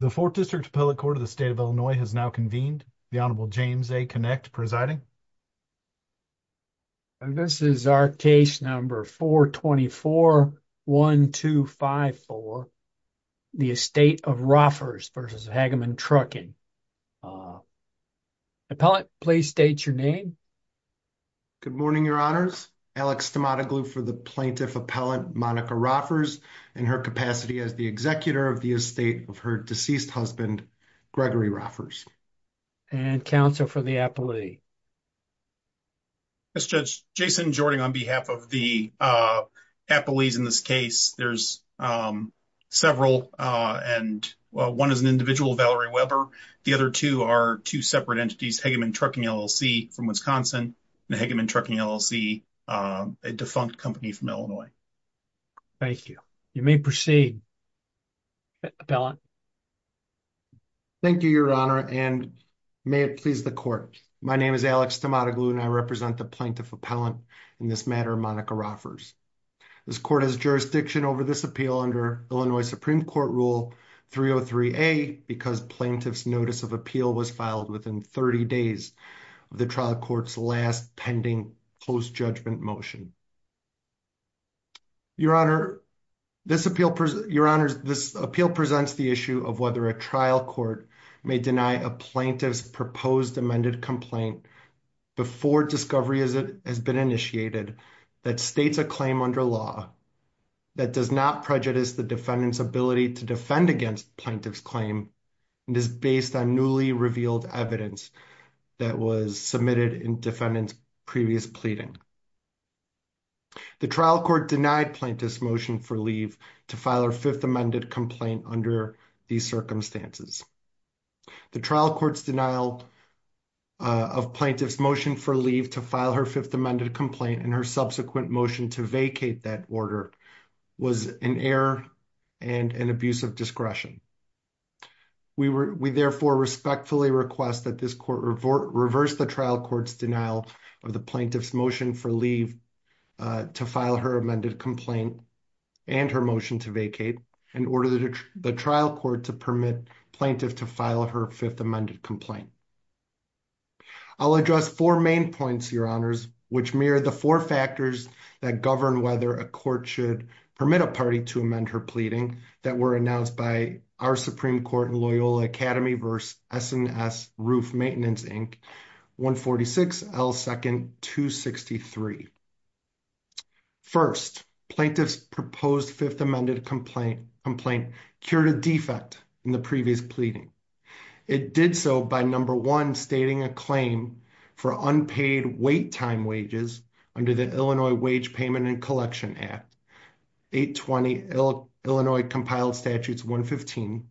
The 4th District Appellate Court of the State of Illinois has now convened. The Honorable James A. Kinect presiding. And this is our case number 424-1254, the Estate of Roffers v. Hageman Trucking. Appellate, please state your name. Good morning, your honors. Alex Stamatoglou for the Plaintiff Appellant Monica Roffers in her capacity as the executor of the estate of her deceased husband, Gregory Roffers. And counsel for the appellee. Yes, Judge. Jason Jording on behalf of the appellees in this case. There's several and one is an individual, Valerie Weber. The other two are two separate entities, Hageman Trucking LLC from Wisconsin and Hageman Trucking LLC, a defunct company from Illinois. Thank you. You may proceed. Appellant. Thank you, your honor, and may it please the court. My name is Alex Stamatoglou and I represent the Plaintiff Appellant in this matter, Monica Roffers. This court has jurisdiction over this appeal under Illinois Supreme Court Rule 303a because plaintiff's notice of appeal was filed within 30 days of the trial court's last pending close judgment motion. Your honor, this appeal presents the issue of whether a trial court may deny a plaintiff's proposed amended complaint before discovery has been initiated that states a claim under law that does not prejudice the defendant's ability to defend against plaintiff's claim and is based on newly revealed evidence that was submitted in defendant's previous pleading. The trial court denied plaintiff's motion for leave to file her fifth amended complaint under these circumstances. The trial court's denial of plaintiff's motion for leave to file her fifth amended complaint and her subsequent motion to vacate that order was an error and an abuse of discretion. We therefore respectfully request that this court reverse the trial court's denial of the plaintiff's motion for leave to file her amended complaint and her motion to vacate and order the trial court to permit plaintiff to file her fifth amended complaint. I'll address four main points, your honors, which mirror the four factors that govern whether a court should permit a party to amend her pleading that were announced by our Supreme Court in Loyola Academy v. S&S Roof Maintenance, Inc., 146 L. 2nd, 263. First, plaintiff's proposed fifth amended complaint cured a defect in the previous pleading. It did so by, number one, stating a claim for unpaid wait time wages under the Illinois Wage Payment and Collection Act, 820 Illinois Compiled Statutes 115,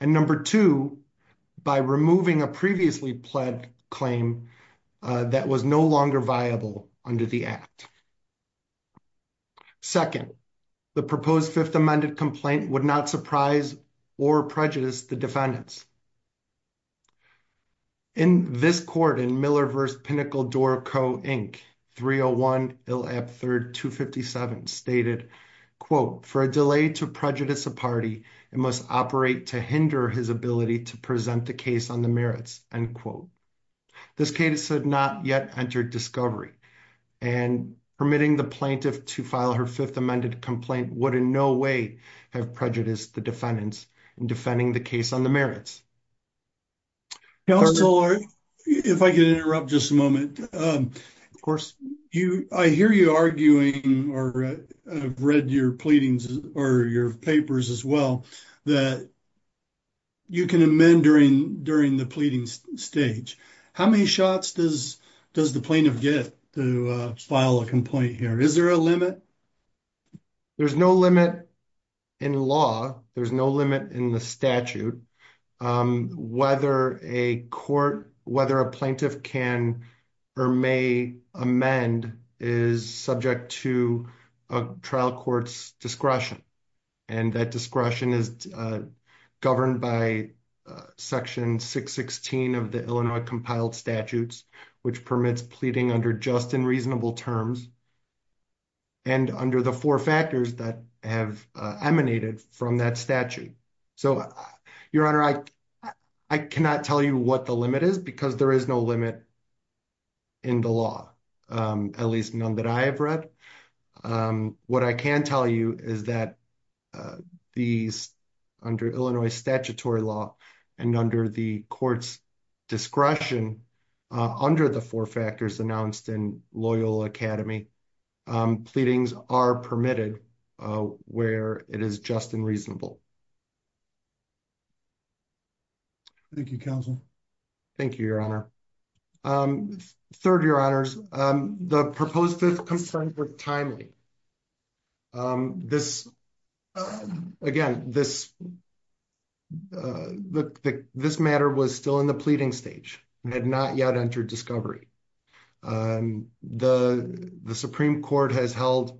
and, number two, by removing a previously pled claim that was no longer viable under the act. Second, the proposed fifth amended complaint would not surprise or prejudice the defendants. In this court in Miller v. Pinnacle-Doroco, Inc., 301 Ill. Ab. 3rd, 257, stated, quote, for a delay to prejudice a party, it must operate to hinder his ability to present the case on the merits, end quote. This case had not yet entered discovery, and permitting the plaintiff to file her fifth amended complaint would in no way have prejudiced the defendants in defending the case on the merits. Counselor, if I could interrupt just a moment. Of course. I hear you arguing, or I've read your pleadings, or your papers as well, that you can amend during the pleading stage. How many shots does the plaintiff get to file a complaint here? Is there a limit? There's no limit in law. There's no limit in the statute. Whether a court, whether a plaintiff can or may amend is subject to a trial court's discretion. And that discretion is governed by section 616 of the Illinois compiled statutes, which permits pleading under just and reasonable terms, and under the four factors that have emanated from that statute. So, Your Honor, I cannot tell you what the limit is because there is no limit in the law, at least none that I have read. What I can tell you is that these, under Illinois statutory law, and under the court's discretion, under the four factors announced in Loyal Academy, pleadings are permitted where it is just and reasonable. Thank you, counsel. Thank you, Your Honor. Third, Your Honors, the proposed fifth confirmed with timely. This, again, this matter was still in the pleading stage. It had not yet entered discovery. And the Supreme Court has held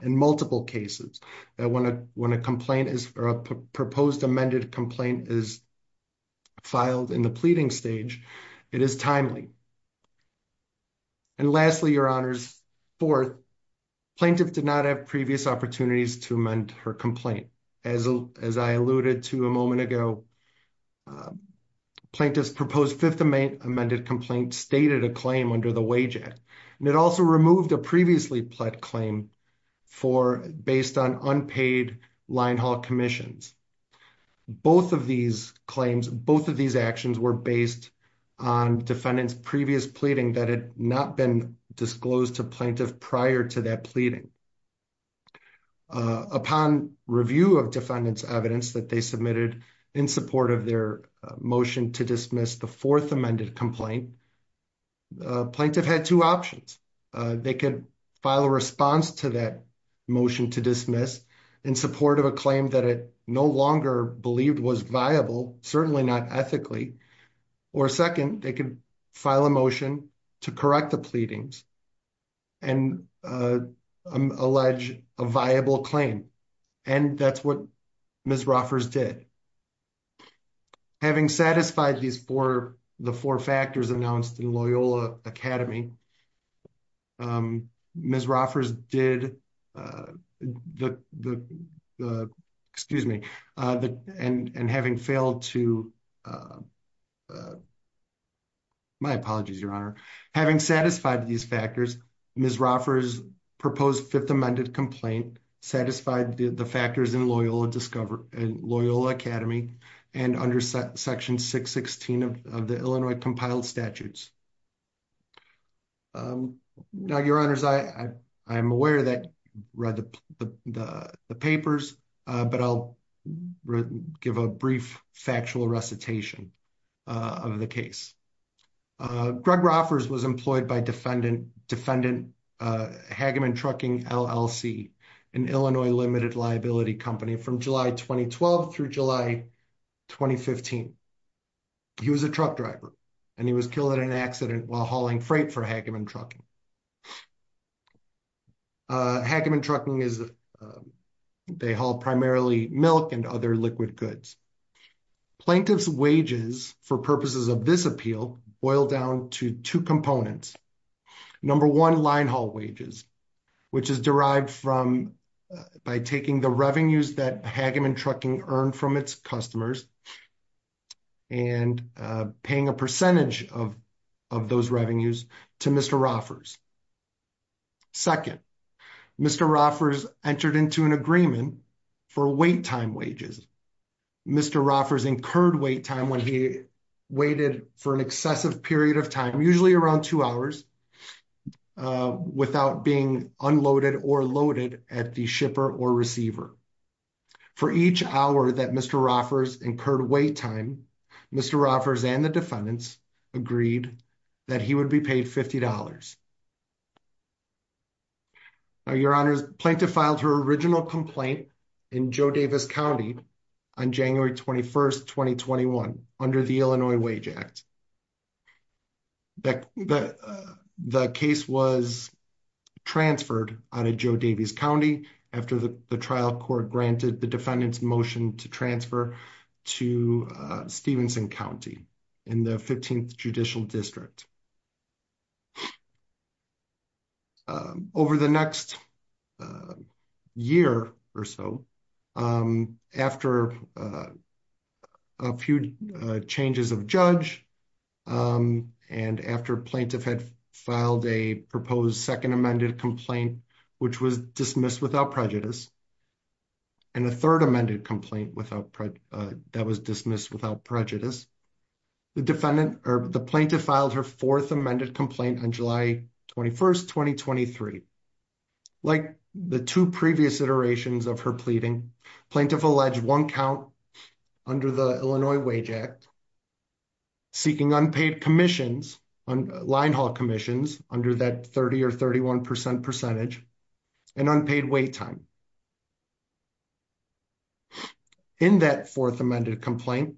in multiple cases that when a complaint is, or a proposed amended complaint is filed in the pleading stage, it is timely. And lastly, Your Honors, fourth, plaintiff did not have previous opportunities to amend her complaint. As I alluded to a moment ago, plaintiff's proposed fifth amended complaint stated a claim under the wage act. And it also removed a previously pled claim for, based on unpaid line haul commissions. Both of these claims, both of these actions were based on defendant's previous pleading that had not been disclosed to plaintiff prior to that pleading. Upon review of defendant's evidence that they submitted in support of their motion to dismiss the fourth amended complaint, plaintiff had two options. They could file a response to that motion to dismiss in support of a claim that it no longer believed was viable, certainly not ethically. Or second, they could file a motion to correct the pleadings and allege a viable claim. And that's what Ms. Roffers did. And having satisfied these four, the four factors announced in Loyola Academy, Ms. Roffers did the, excuse me, and having failed to, my apologies, Your Honor. Having satisfied these factors, Ms. Roffers proposed fifth amended complaint, satisfied the factors in Loyola Academy and under section 616 of the Illinois compiled statutes. Now, Your Honors, I am aware that you read the papers, but I'll give a brief factual recitation of the case. Greg Roffers was employed by defendant defendant, Hageman Trucking LLC, an Illinois limited liability company from July 2012 through July 2015. He was a truck driver and he was killed in an accident while hauling freight for Hageman Trucking. Hageman Trucking is, they haul primarily milk and other liquid goods. Plaintiff's wages for purposes of this appeal boil down to two components. Number one, line haul wages, which is derived from by taking the revenues that Hageman Trucking earned from its customers and paying a percentage of those revenues to Mr. Roffers. Second, Mr. Roffers entered into an agreement for wait time wages. Mr. Roffers incurred wait time when he waited for an excessive period of time, usually around two hours, without being unloaded or loaded at the shipper or receiver. For each hour that Mr. Roffers incurred wait time, Mr. Roffers and the defendants agreed that he would be paid $50. Now, your honors, plaintiff filed her original complaint in Joe Davis County on January 21st, 2021 under the Illinois Wage Act. The case was transferred out of Joe Davis County after the trial court granted the defendant's motion to transfer to Stevenson County in the 15th judicial district. Over the next year or so, after a few changes of judge and after plaintiff had filed a proposed second amended complaint, which was dismissed without prejudice, and a third amended complaint that was dismissed without prejudice, the plaintiff filed her fourth amended complaint on July 21st, 2023. Like the two previous iterations of her pleading, plaintiff alleged one count under the Illinois Wage Act, seeking unpaid commissions, line haul commissions under that 30 or 31% percentage, and unpaid wait time. In that fourth amended complaint,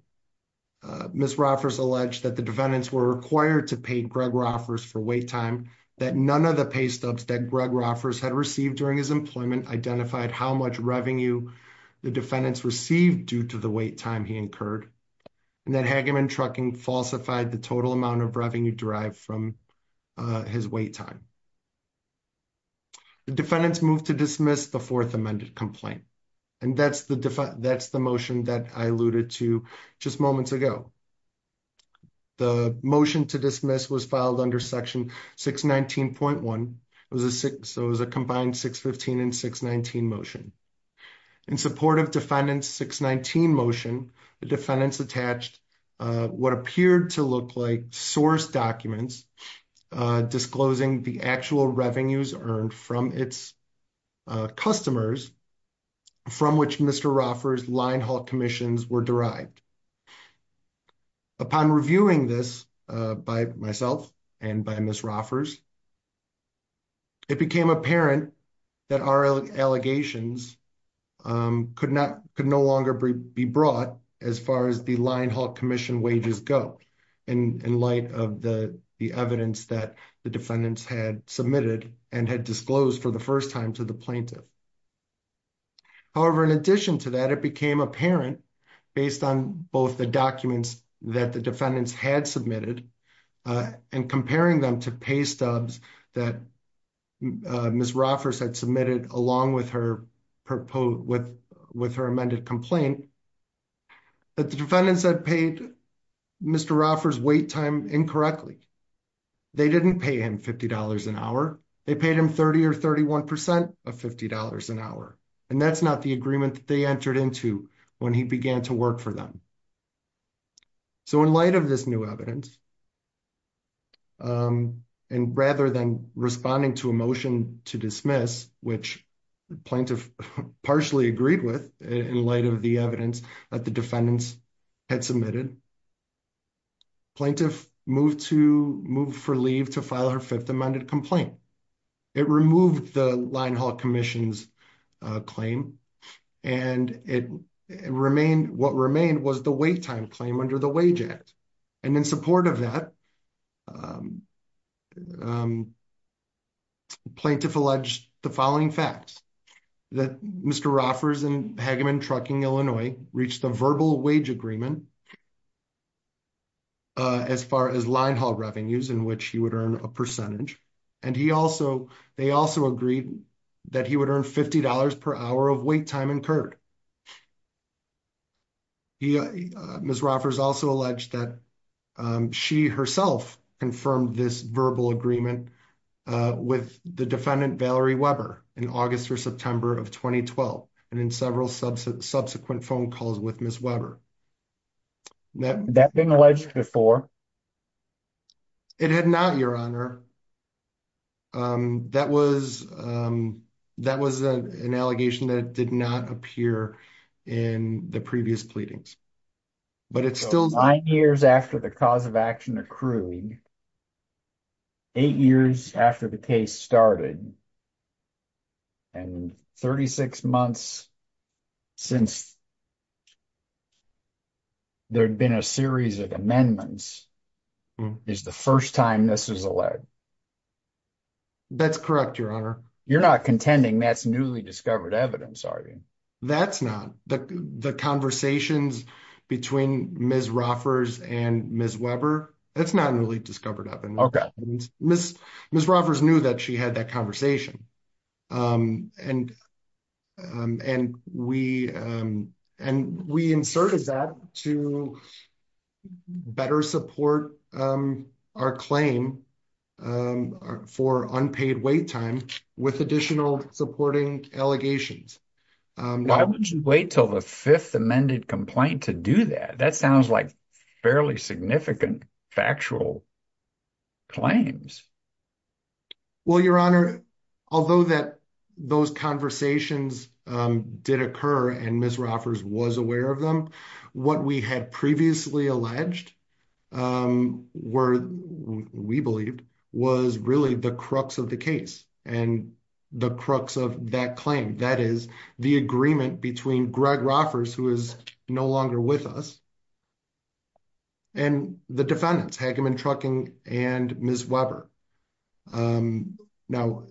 Ms. Roffers alleged that the defendants were required to pay Greg Roffers for wait time, that none of the pay stubs that Greg Roffers had received during his employment identified how much revenue the defendants received due to the wait time he incurred, and that Hageman Trucking falsified the total amount of revenue derived from his wait time. The defendants moved to dismiss the fourth amended complaint, and that's the motion that I alluded to just moments ago. The motion to dismiss was under section 619.1. It was a combined 615 and 619 motion. In support of defendant's 619 motion, the defendants attached what appeared to look like source documents disclosing the actual revenues earned from its customers, from which Mr. Roffers' line haul commissions were derived. Upon reviewing this by myself and by Ms. Roffers, it became apparent that our allegations could no longer be brought as far as the line haul commission wages go, in light of the evidence that the defendants had submitted and had disclosed for the first time to the plaintiff. However, in addition to that, it became apparent, based on both the documents that the defendants had submitted and comparing them to pay stubs that Ms. Roffers had submitted along with her amended complaint, that the defendants had paid Mr. Roffers' wait time incorrectly. They didn't pay him $50 an hour. They paid him 30 or 31 percent of $50 an hour, and that's not the agreement that they entered into when he began to work for them. So, in light of this new evidence and rather than responding to a motion to dismiss, which the plaintiff partially agreed with in light of the evidence that the defendants had submitted, the plaintiff moved for leave to file her fifth amended complaint. It removed the line haul commission's claim, and what remained was the wait time claim under the Wage Act, and in support of that, plaintiff alleged the following facts, that Mr. Roffers in Hageman Trucking, Illinois, reached a verbal wage agreement as far as line haul revenues in which he would earn a percentage, and they also agreed that he would earn $50 per hour of wait time incurred. Ms. Roffers also alleged that she herself confirmed this verbal agreement with the defendant, Valerie Weber, in August or September of 2012, and in several subsequent phone calls with Ms. Weber. That's been alleged before? It had not, your honor. That was an allegation that did not appear in the previous pleadings, but it still... Nine years after the cause of action accrued, eight years after the case started, and 36 months since there'd been a series of amendments, is the first time this is alleged? That's correct, your honor. You're not contending that's newly discovered evidence, are you? That's not. The conversations between Ms. Roffers and Ms. Weber, that's not newly discovered evidence. Ms. Roffers knew that she had that conversation, and we inserted that to better support our claim for unpaid wait time with additional supporting allegations. Why would you wait till the fifth amended complaint to do that? That sounds like fairly significant factual claims. Well, your honor, although those conversations did occur and Ms. Roffers was aware of them, what we had previously alleged, or we believed, was really the crux of the case and the crux of that claim. That is, the agreement between Greg Roffers, who is no longer with us, and the defendants, Hageman, Trucking, and Ms. Weber. Now,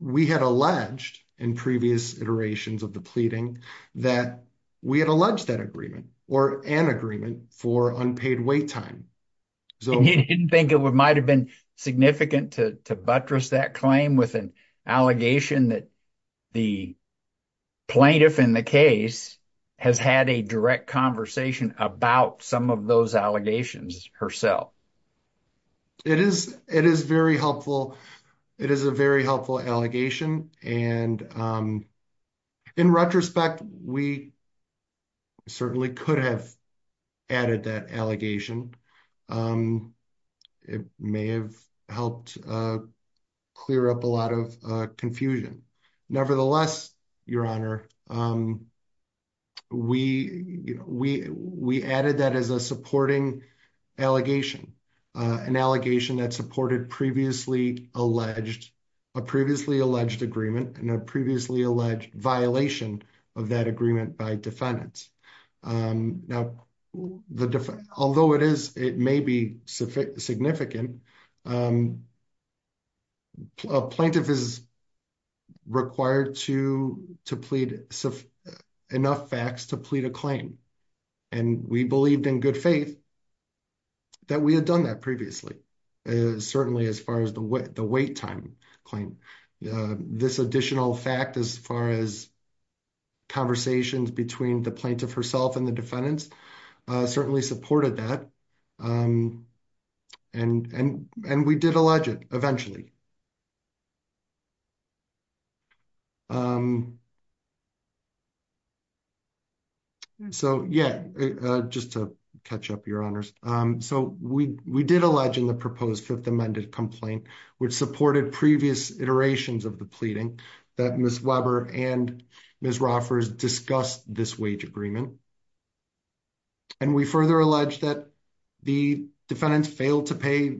we had alleged in previous iterations of the pleading that we had alleged that agreement or an agreement for unpaid wait time. You didn't think it might have been significant to buttress that claim with an allegation that the plaintiff in the case has had a direct conversation about some of those retrospect, we certainly could have added that allegation. It may have helped clear up a lot of confusion. Nevertheless, your honor, we added that as a supporting allegation, an allegation that supported a previously alleged agreement and a previously alleged violation of that agreement by defendants. Although it may be significant, a plaintiff is required to plead enough facts to plead a claim. We believed in good faith that we had done that previously. Certainly, as far as the wait time claim, this additional fact as far as conversations between the plaintiff herself and the defendants certainly supported that. We did allege it eventually. So, yeah, just to catch up, your honors. So, we did allege in the proposed fifth amended complaint, which supported previous iterations of the pleading that Ms. Weber and Ms. Roffers discussed this wage agreement. And we further allege that the defendants failed to pay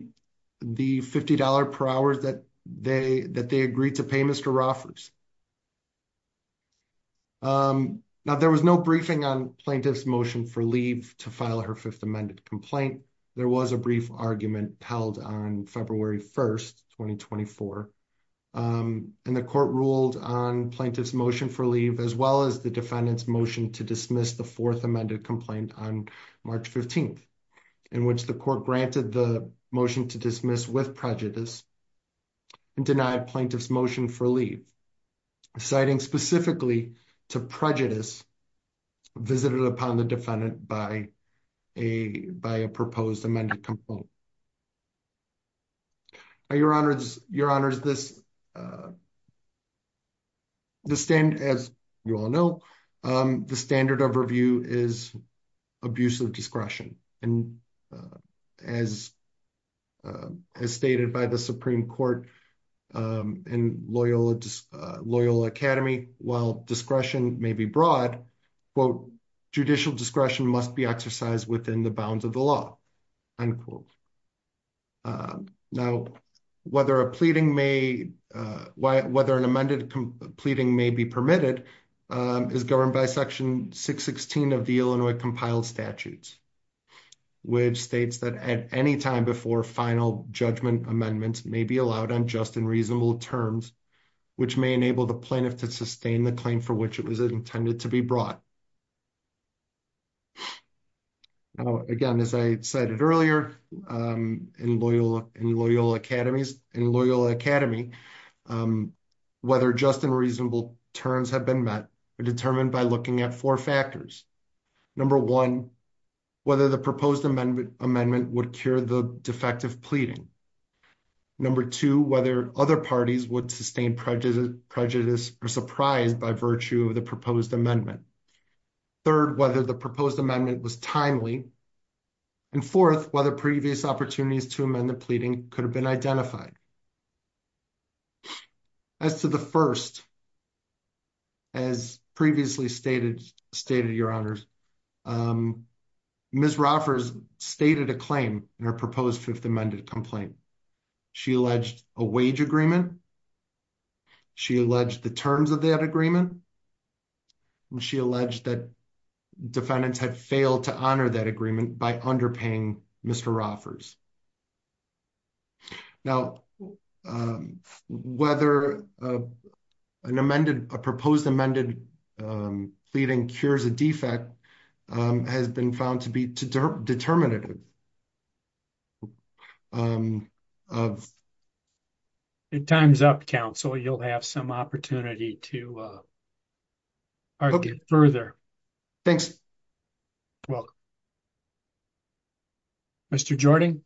the $50 per hour that they agreed to pay Mr. Roffers. Now, there was no briefing on plaintiff's motion for leave to file her fifth amended complaint. There was a brief argument held on February 1st, 2024. And the court ruled on plaintiff's motion for leave, as well as the defendant's motion to dismiss the fourth amended complaint on March 15th, in which the court granted the motion to prejudice and denied plaintiff's motion for leave, citing specifically to prejudice visited upon the defendant by a proposed amended complaint. Your honors, as you all know, the standard of review is abuse of discretion. And as stated by the Supreme Court and Loyola Academy, while discretion may be broad, judicial discretion must be exercised within the bounds of the law. Now, whether an amended pleading may be permitted is governed by section 616 of the Illinois compiled statutes, which states that at any time before final judgment amendments may be allowed on just and reasonable terms, which may enable the plaintiff to sustain the claim for which it was intended to be brought. Now, again, as I cited earlier, in Loyola Academy, whether just and reasonable terms have been met are determined by looking at four factors. Number one, whether the proposed amendment would cure the defective pleading. Number two, whether other parties would sustain prejudice or surprise by virtue of the proposed amendment. Third, whether the proposed amendment was timely. And fourth, whether previous opportunities to amend the pleading could have been identified. As to the first, as previously stated, your honors, Ms. Roffers stated a claim in her proposed fifth amended complaint. She alleged a wage agreement. She alleged the terms of that agreement. She alleged that defendants had failed to honor that agreement by underpaying Mr. Roffers. Now, whether a proposed amended pleading cures a defect has been found to be determinative. It time's up, counsel. You'll have some opportunity to argue further. Thanks. Mr. Jordan.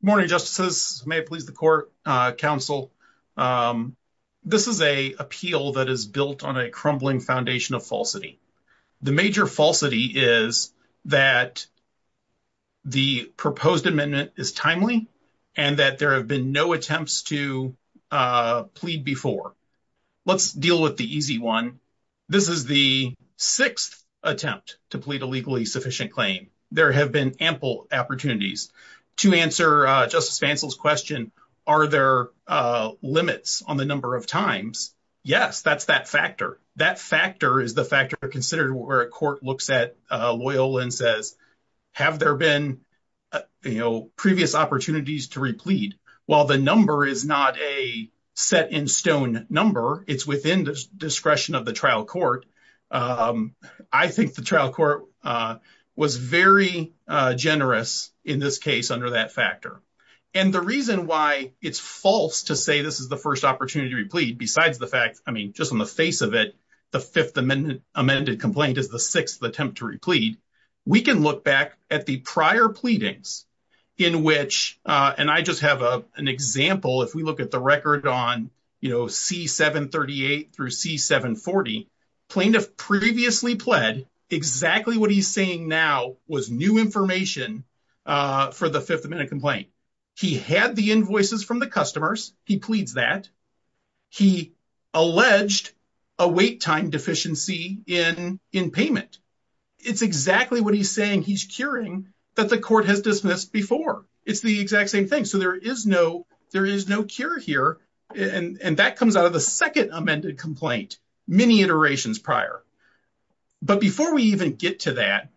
Good morning, justices. May it please the court, counsel. This is a appeal that is built on a crumbling foundation of falsity. The major falsity is that the proposed amendment is timely and that there have been no attempts to plead before. Let's deal with the easy one. This is the sixth attempt to plead a legally sufficient claim. There have been ample opportunities. To answer Justice Fancel's question, are there limits on the number of times? Yes, that's that factor. That factor is the factor considered where a court looks at Loyola and says, have there been previous opportunities to replead? While the number is not a set in stone number, it's within the discretion of the trial court. I think the trial court was very generous in this case under that factor. And the reason why it's false to say this is the first opportunity to replead, besides the fact, I mean, just on the face of it, the fifth amended complaint is the sixth attempt to replead. We can look back at the prior pleadings in which, and I just have an example, if we look at the record on C-738 through C-740, plaintiff previously pled, exactly what he's saying now was new information for the fifth amendment complaint. He had the invoices from the customers. He pleads that. He alleged a wait time deficiency in payment. It's exactly what he's saying he's curing that the court has dismissed before. It's the exact same thing. So there is no cure here. And that comes out of the second amended complaint, many iterations prior. But before we even get to that,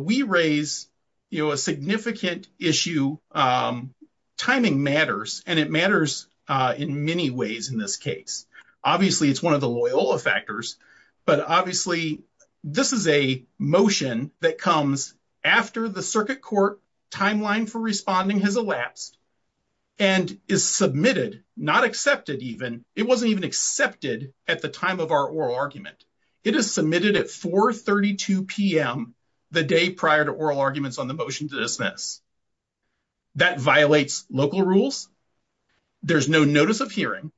we raise a significant issue. Timing matters, and it matters in many ways in this case. Obviously it's one of the Loyola factors, but obviously this is a motion that comes after the circuit court timeline for responding has elapsed and is submitted, not accepted even, it wasn't even accepted at the time of our oral argument. It is submitted at 4.32 PM, the day prior to oral arguments on the motion to dismiss. That violates local rules. There's no notice of hearing.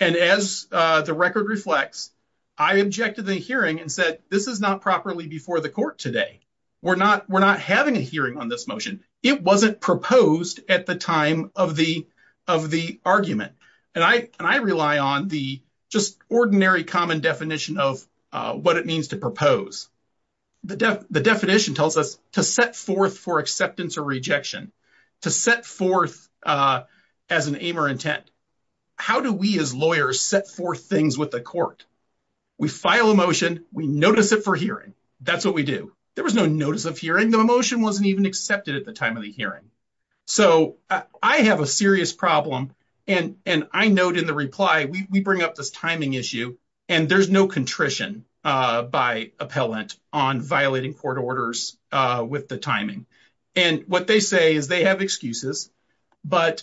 And as the record reflects, I objected to the hearing and said, this is not properly before the court today. We're not having a hearing on this motion. It wasn't proposed at the time of the argument. And I rely on the just ordinary common definition of what it means to propose. The definition tells us to set forth for acceptance or rejection, to set forth as an aim or intent. How do we as lawyers set forth things with the court? We file a motion, we notice it for hearing. That's what we do. There was no notice of hearing. The motion wasn't even accepted at the time of the hearing. So I have a serious problem. And I note in the reply, we bring up this timing issue and there's no contrition by appellant on violating court orders with the timing. And what they say is they have excuses, but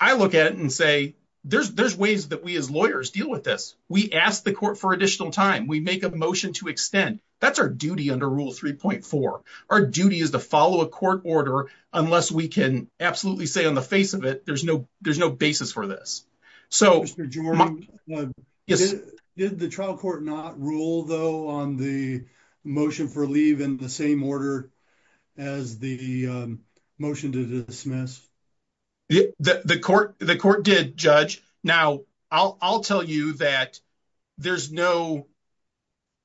I look at it and say, there's ways that we as lawyers deal with this. We ask the court for additional time. We make a motion to extend. That's our duty under Rule 3.4. Our duty is to follow a court order unless we can absolutely say on the face of it, there's no basis for this. Mr. Jordan, did the trial court not rule though on the motion for leave in the same order as the motion to dismiss? The court did, Judge. Now, I'll tell you that there's no,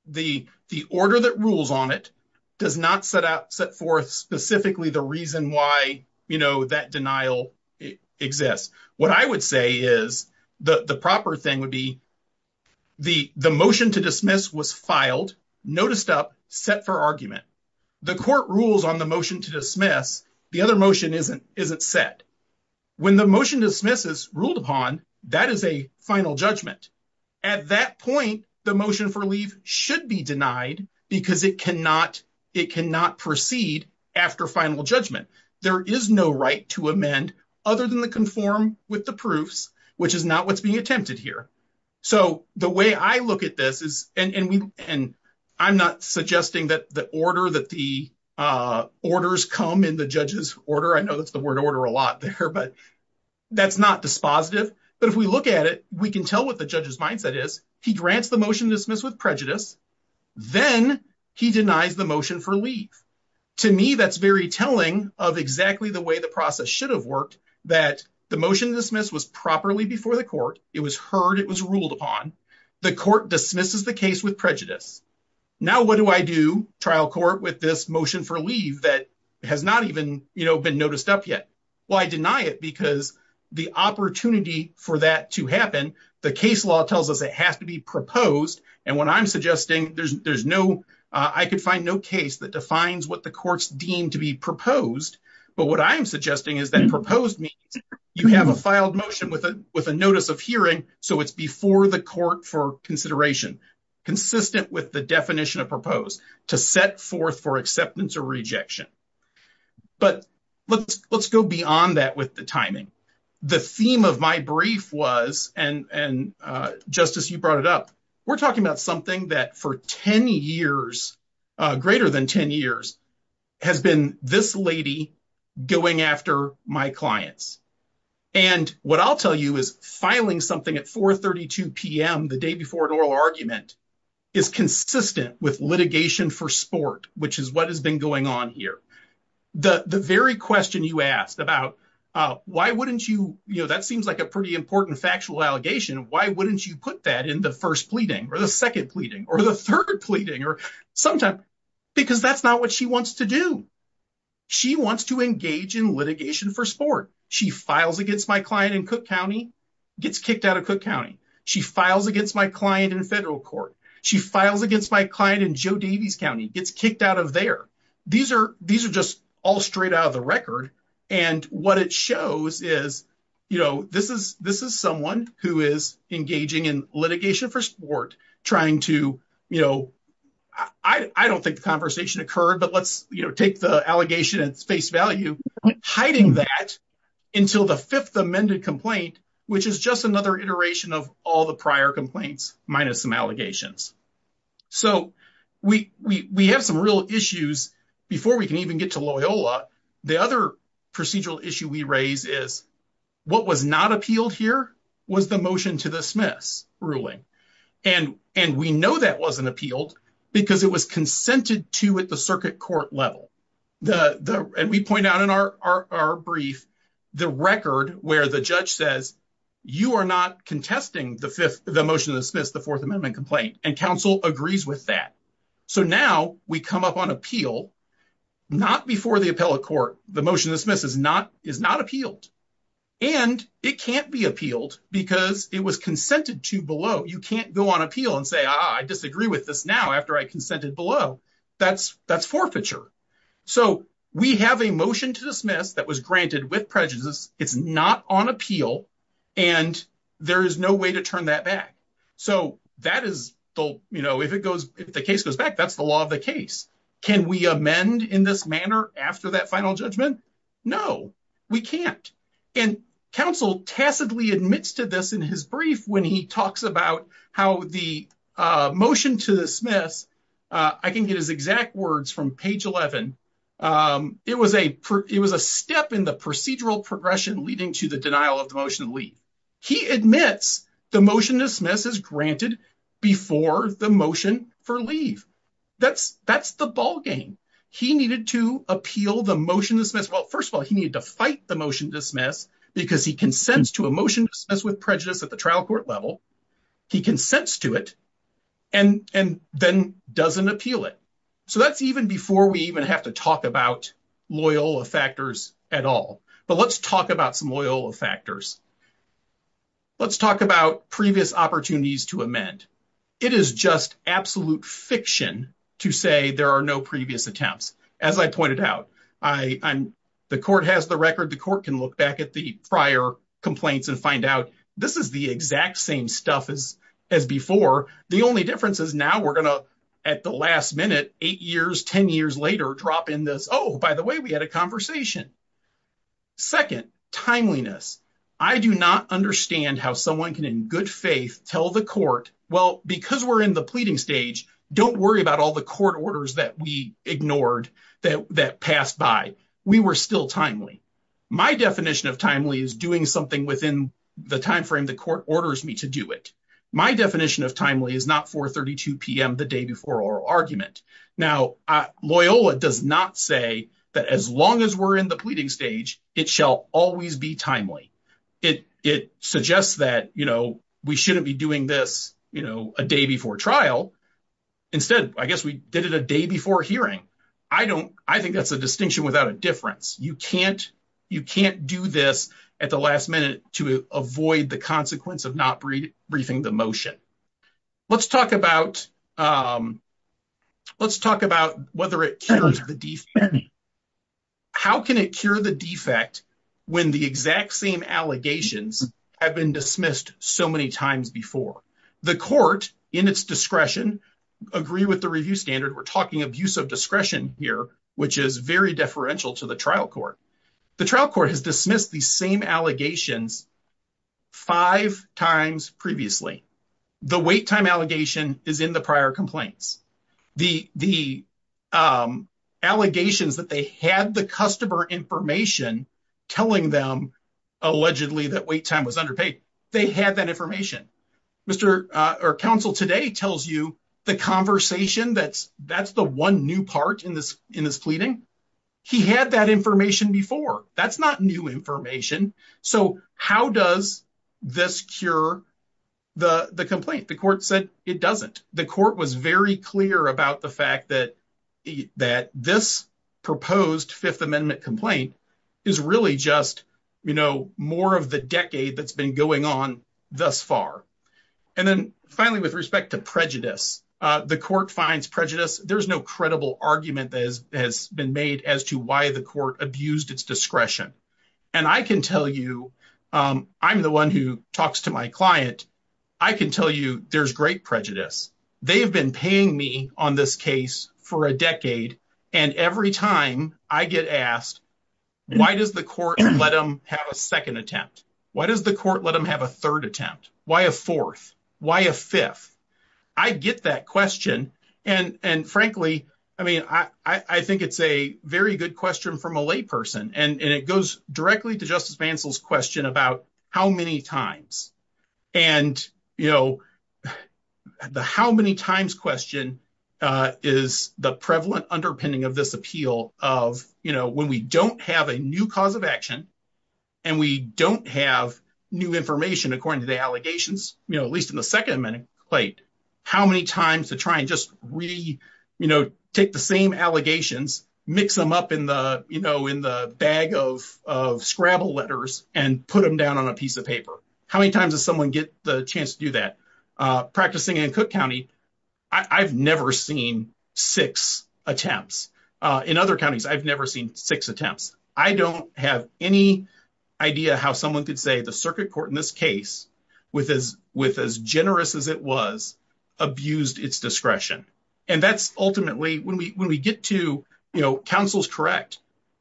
the order that rules on it does not set forth specifically the reason why that denial exists. What I would say is the proper thing would be the motion to dismiss was filed, noticed up, set for argument. The court rules on the motion to dismiss. The other motion isn't set. When the motion to dismiss is ruled upon, that is a final judgment. At that point, the motion for leave should be denied because it cannot proceed after final judgment. There is no right to amend other than to conform with the proofs, which is not what's being attempted here. So the way I look at this is, and I'm not suggesting that the order that the orders come in the judge's order, I know that's the word order a lot there, but that's not dispositive. But if we look at it, we can tell what the judge's mindset is. He grants the motion to dismiss with prejudice. Then he denies the motion for leave. To me, that's very telling of exactly the way the process should have worked, that the motion to dismiss was properly before the court. It was heard. It was ruled upon. The court dismisses the case with prejudice. Now what do I do, trial court, with this motion for leave that has not even been noticed up yet? Well, I deny it because the opportunity for that to happen, the case law tells us it has to be proposed. And when I'm suggesting there's no, I could find no case that defines what the court's deemed to be proposed. But what I'm suggesting is that proposed means you have a filed motion with a notice of hearing. So it's before the court for consideration, consistent with the definition of proposed to set forth for acceptance or rejection. But let's go beyond that with the timing. The theme of my brief was, and Justice, you brought it up, we're talking about something that for 10 years, greater than 10 years, has been this lady going after my clients. And what I'll tell you is filing something at 4.32 p.m. the day before an oral argument is consistent with litigation for sport, which is what has been going on here. The very question you asked about why wouldn't you, you know, that seems like a pretty important factual allegation, why wouldn't you put that in the first pleading or the second pleading or the third pleading or sometimes because that's not what she wants to do. She wants to engage in litigation for sport. She files against my client in Cook County, gets kicked out of Cook County. She files against my client in federal court. She files against my client in Joe Davies County, gets kicked out of there. These are just all straight out of the record. And what it shows is, you know, this is someone who is engaging in litigation for sport, trying to, you know, I don't think the conversation occurred, but let's, you know, take the allegation at face value, hiding that until the fifth amended complaint, which is just another iteration of all the prior complaints minus some allegations. So we have some real issues before we can even get to Loyola. The other procedural issue we raise is what was not appealed here was the motion to dismiss ruling. And, and we know that wasn't appealed because it was consented to at the circuit court level. The, the, and we point out in our, our, our brief, the record where the judge says, you are not contesting the fifth, the motion to dismiss the fourth amendment complaint and counsel agrees with that. So now we come up on appeal, not before the appellate court, the motion to dismiss is not, is not appealed. And it can't be appealed because it was consented to below. You can't go on appeal and say, ah, I disagree with this now after I consented below that's that's forfeiture. So we have a motion to dismiss that was granted with prejudice. It's not on appeal and there is no way to turn that back. So that is the, you know, if it goes, if the case goes back, that's the law of the case. Can we amend in this manner after that final judgment? No, we can't. And counsel tacitly admits to this in his brief, when he talks about how the, uh, motion to dismiss, uh, I can get his exact words from page 11. Um, it was a, it was a step in the procedural progression leading to the denial of the motion to leave. He admits the motion to dismiss is granted before the motion for leave. That's, that's the ball game. He needed to appeal the motion to dismiss. Well, first of all, he needed to fight the motion to dismiss because he consents to a motion to dismiss with prejudice at the trial court level. He consents to it and, and then doesn't appeal it. So that's even before we even have to talk about Loyola factors at all. But let's talk about some Loyola factors. Let's talk about previous opportunities to amend. It is just absolute fiction to say there are no previous attempts. As I pointed out, I, I'm, the court has the record. The court can look back at the prior complaints and find out this is the exact same stuff as, as before. The only difference is now we're going to at the last minute, eight years, 10 years later, drop in this. Oh, by the way, we had a conversation. Second timeliness. I do not understand how someone can in good faith tell the court, well, because we're in the pleading stage, don't worry about all the court orders that we ignored that, that passed by. We were still timely. My definition of timely is doing something within the timeframe. The court orders me to do it. My definition of timely is not 4.32 PM the day before oral argument. Now, Loyola does not say that as long as we're in the pleading stage, it shall always be timely. It, it suggests that, you know, we shouldn't be doing this, you know, a day before trial. Instead, I guess we did it a day before hearing. I don't, I think that's a distinction without a difference. You can't, you can't do this at the last minute to avoid the consequence of not briefing the motion. Let's talk about, let's talk about whether it cures the defect. How can it cure the defect when the exact same allegations have been dismissed so many times before? The court in its discretion agree with the review standard. We're talking abuse of discretion here, which is very deferential to the trial court. The trial court has dismissed the same allegations five times previously. The wait time allegation is in the prior complaints. The, the, um, allegations that they had the customer information telling them allegedly that wait time was underpaid. They had that information. Mr. Uh, or counsel today tells you the conversation that's, that's the one new part in this, in this before that's not new information. So how does this cure the complaint? The court said it doesn't. The court was very clear about the fact that, that this proposed fifth amendment complaint is really just, you know, more of the decade that's been going on thus far. And then finally, with respect to prejudice, uh, the court finds prejudice. There's no credible argument that has been made as to why the court abused its discretion. And I can tell you, um, I'm the one who talks to my client. I can tell you there's great prejudice. They've been paying me on this case for a decade. And every time I get asked, why does the court let them have a second attempt? Why does the court let them have a third attempt? Why a fourth? Why a fifth? I get that question. And, and frankly, I mean, I, I think it's a very good question from a lay person and it goes directly to justice Mansell's question about how many times and, you know, the, how many times question, uh, is the prevalent underpinning of this appeal of, you know, when we don't have a new cause of action and we don't have new information, according to the allegations, you know, at least in the second minute plate, how many times to try and just really, you know, take the same allegations, mix them up in the, you know, in the bag of, of scrabble letters and put them down on a piece of paper. How many times does someone get the chance to do that? Uh, practicing in Cook County, I I've never seen six attempts, uh, in other counties. I've never seen six attempts. I don't have any idea how someone could say the circuit court in this case with as, with as generous as it was abused its discretion. And that's ultimately when we, when we get to, you know, counsel's correct.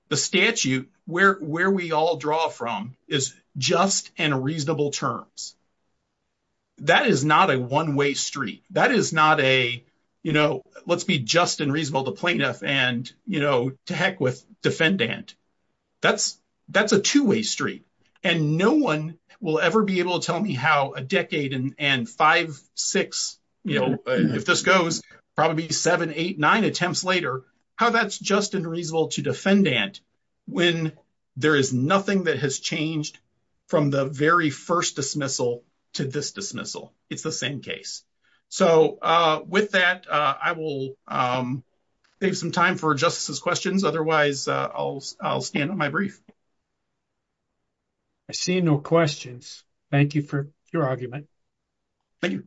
The statute where, where we all draw from is just and reasonable terms. That is not a one way street. That is not a, you know, let's be just and reasonable to plaintiff and, you know, to heck with defendant. That's, that's a two way street and no one will ever be able to tell me how a decade and five, six, you know, if this goes probably seven, eight, nine attempts later, how that's just unreasonable to defendant. When there is nothing that has changed from the very first dismissal to this dismissal, it's the same case. So, uh, with that, uh, I will, um, some time for justice's questions. Otherwise, uh, I'll, I'll stand on my brief. I see no questions. Thank you for your argument. Thank you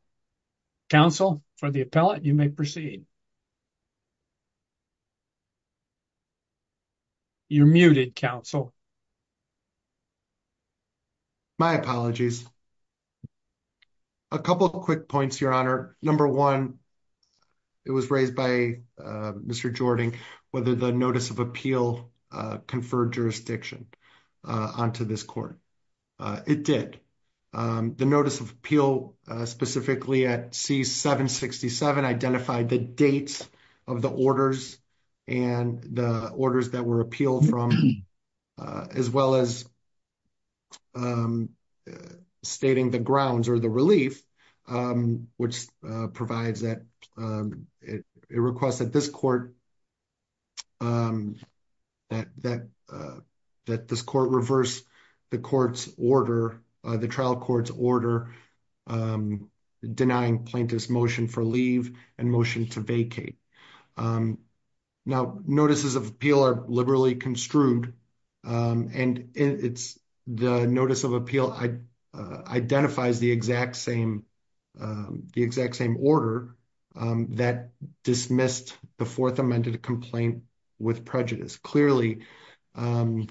counsel for the appellate. You may proceed. You're muted council. My apologies. A couple of quick points, your honor. Number one, it was raised by, uh, Mr. Jordan, whether the notice of appeal, uh, conferred jurisdiction onto this court. Uh, it did, um, the notice of appeal, uh, specifically at C767 identified the dates of the orders and the orders that were appealed from, uh, as well as, um, uh, provides that, um, it requests that this court, um, that, that, uh, that this court reverse the court's order, uh, the trial court's order, um, denying plaintiff's motion for leave and motion to vacate. Um, now notices of appeal are liberally construed. Um, and it's the notice of appeal. I, uh, identifies the exact same, um, the exact same order, um, that dismissed the fourth amended complaint with prejudice. Clearly, um,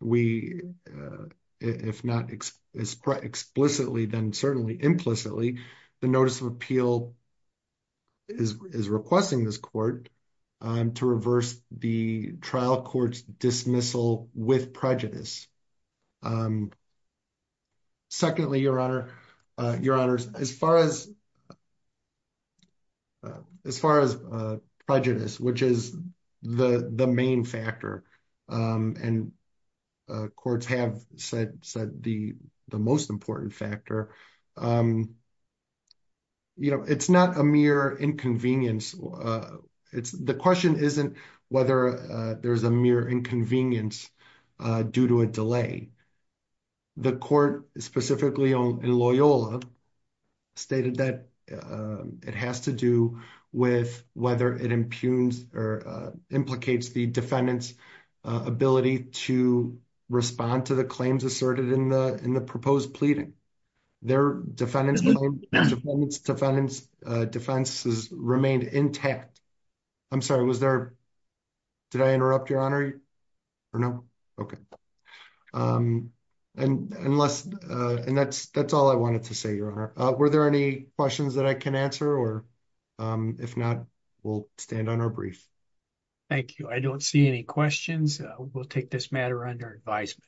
we, uh, if not explicitly, then certainly implicitly the notice of appeal is, is requesting this court, um, to reverse the trial court's dismissal with prejudice. Um, secondly, Your Honor, uh, Your Honors, as far as, as far as, uh, prejudice, which is the, the main factor, um, and, uh, courts have said, said the, the most important factor, um, you know, it's not a mere inconvenience. Uh, it's, the question isn't whether, uh, there's a mere inconvenience, uh, due to a delay. The court specifically on Loyola stated that, uh, it has to do with whether it impugns or, uh, implicates the defendant's, uh, ability to respond to the claims asserted in the, in the proposed pleading. Their defendants, defendants, uh, defenses remained intact. I'm sorry. Was there, did I interrupt Your Honor or no? Okay. Um, and unless, uh, and that's, that's all I wanted to say, Your Honor. Uh, were there any questions that I can answer or, um, if not, we'll stand on our brief. Thank you. I don't see any questions. We'll take this matter under advisement.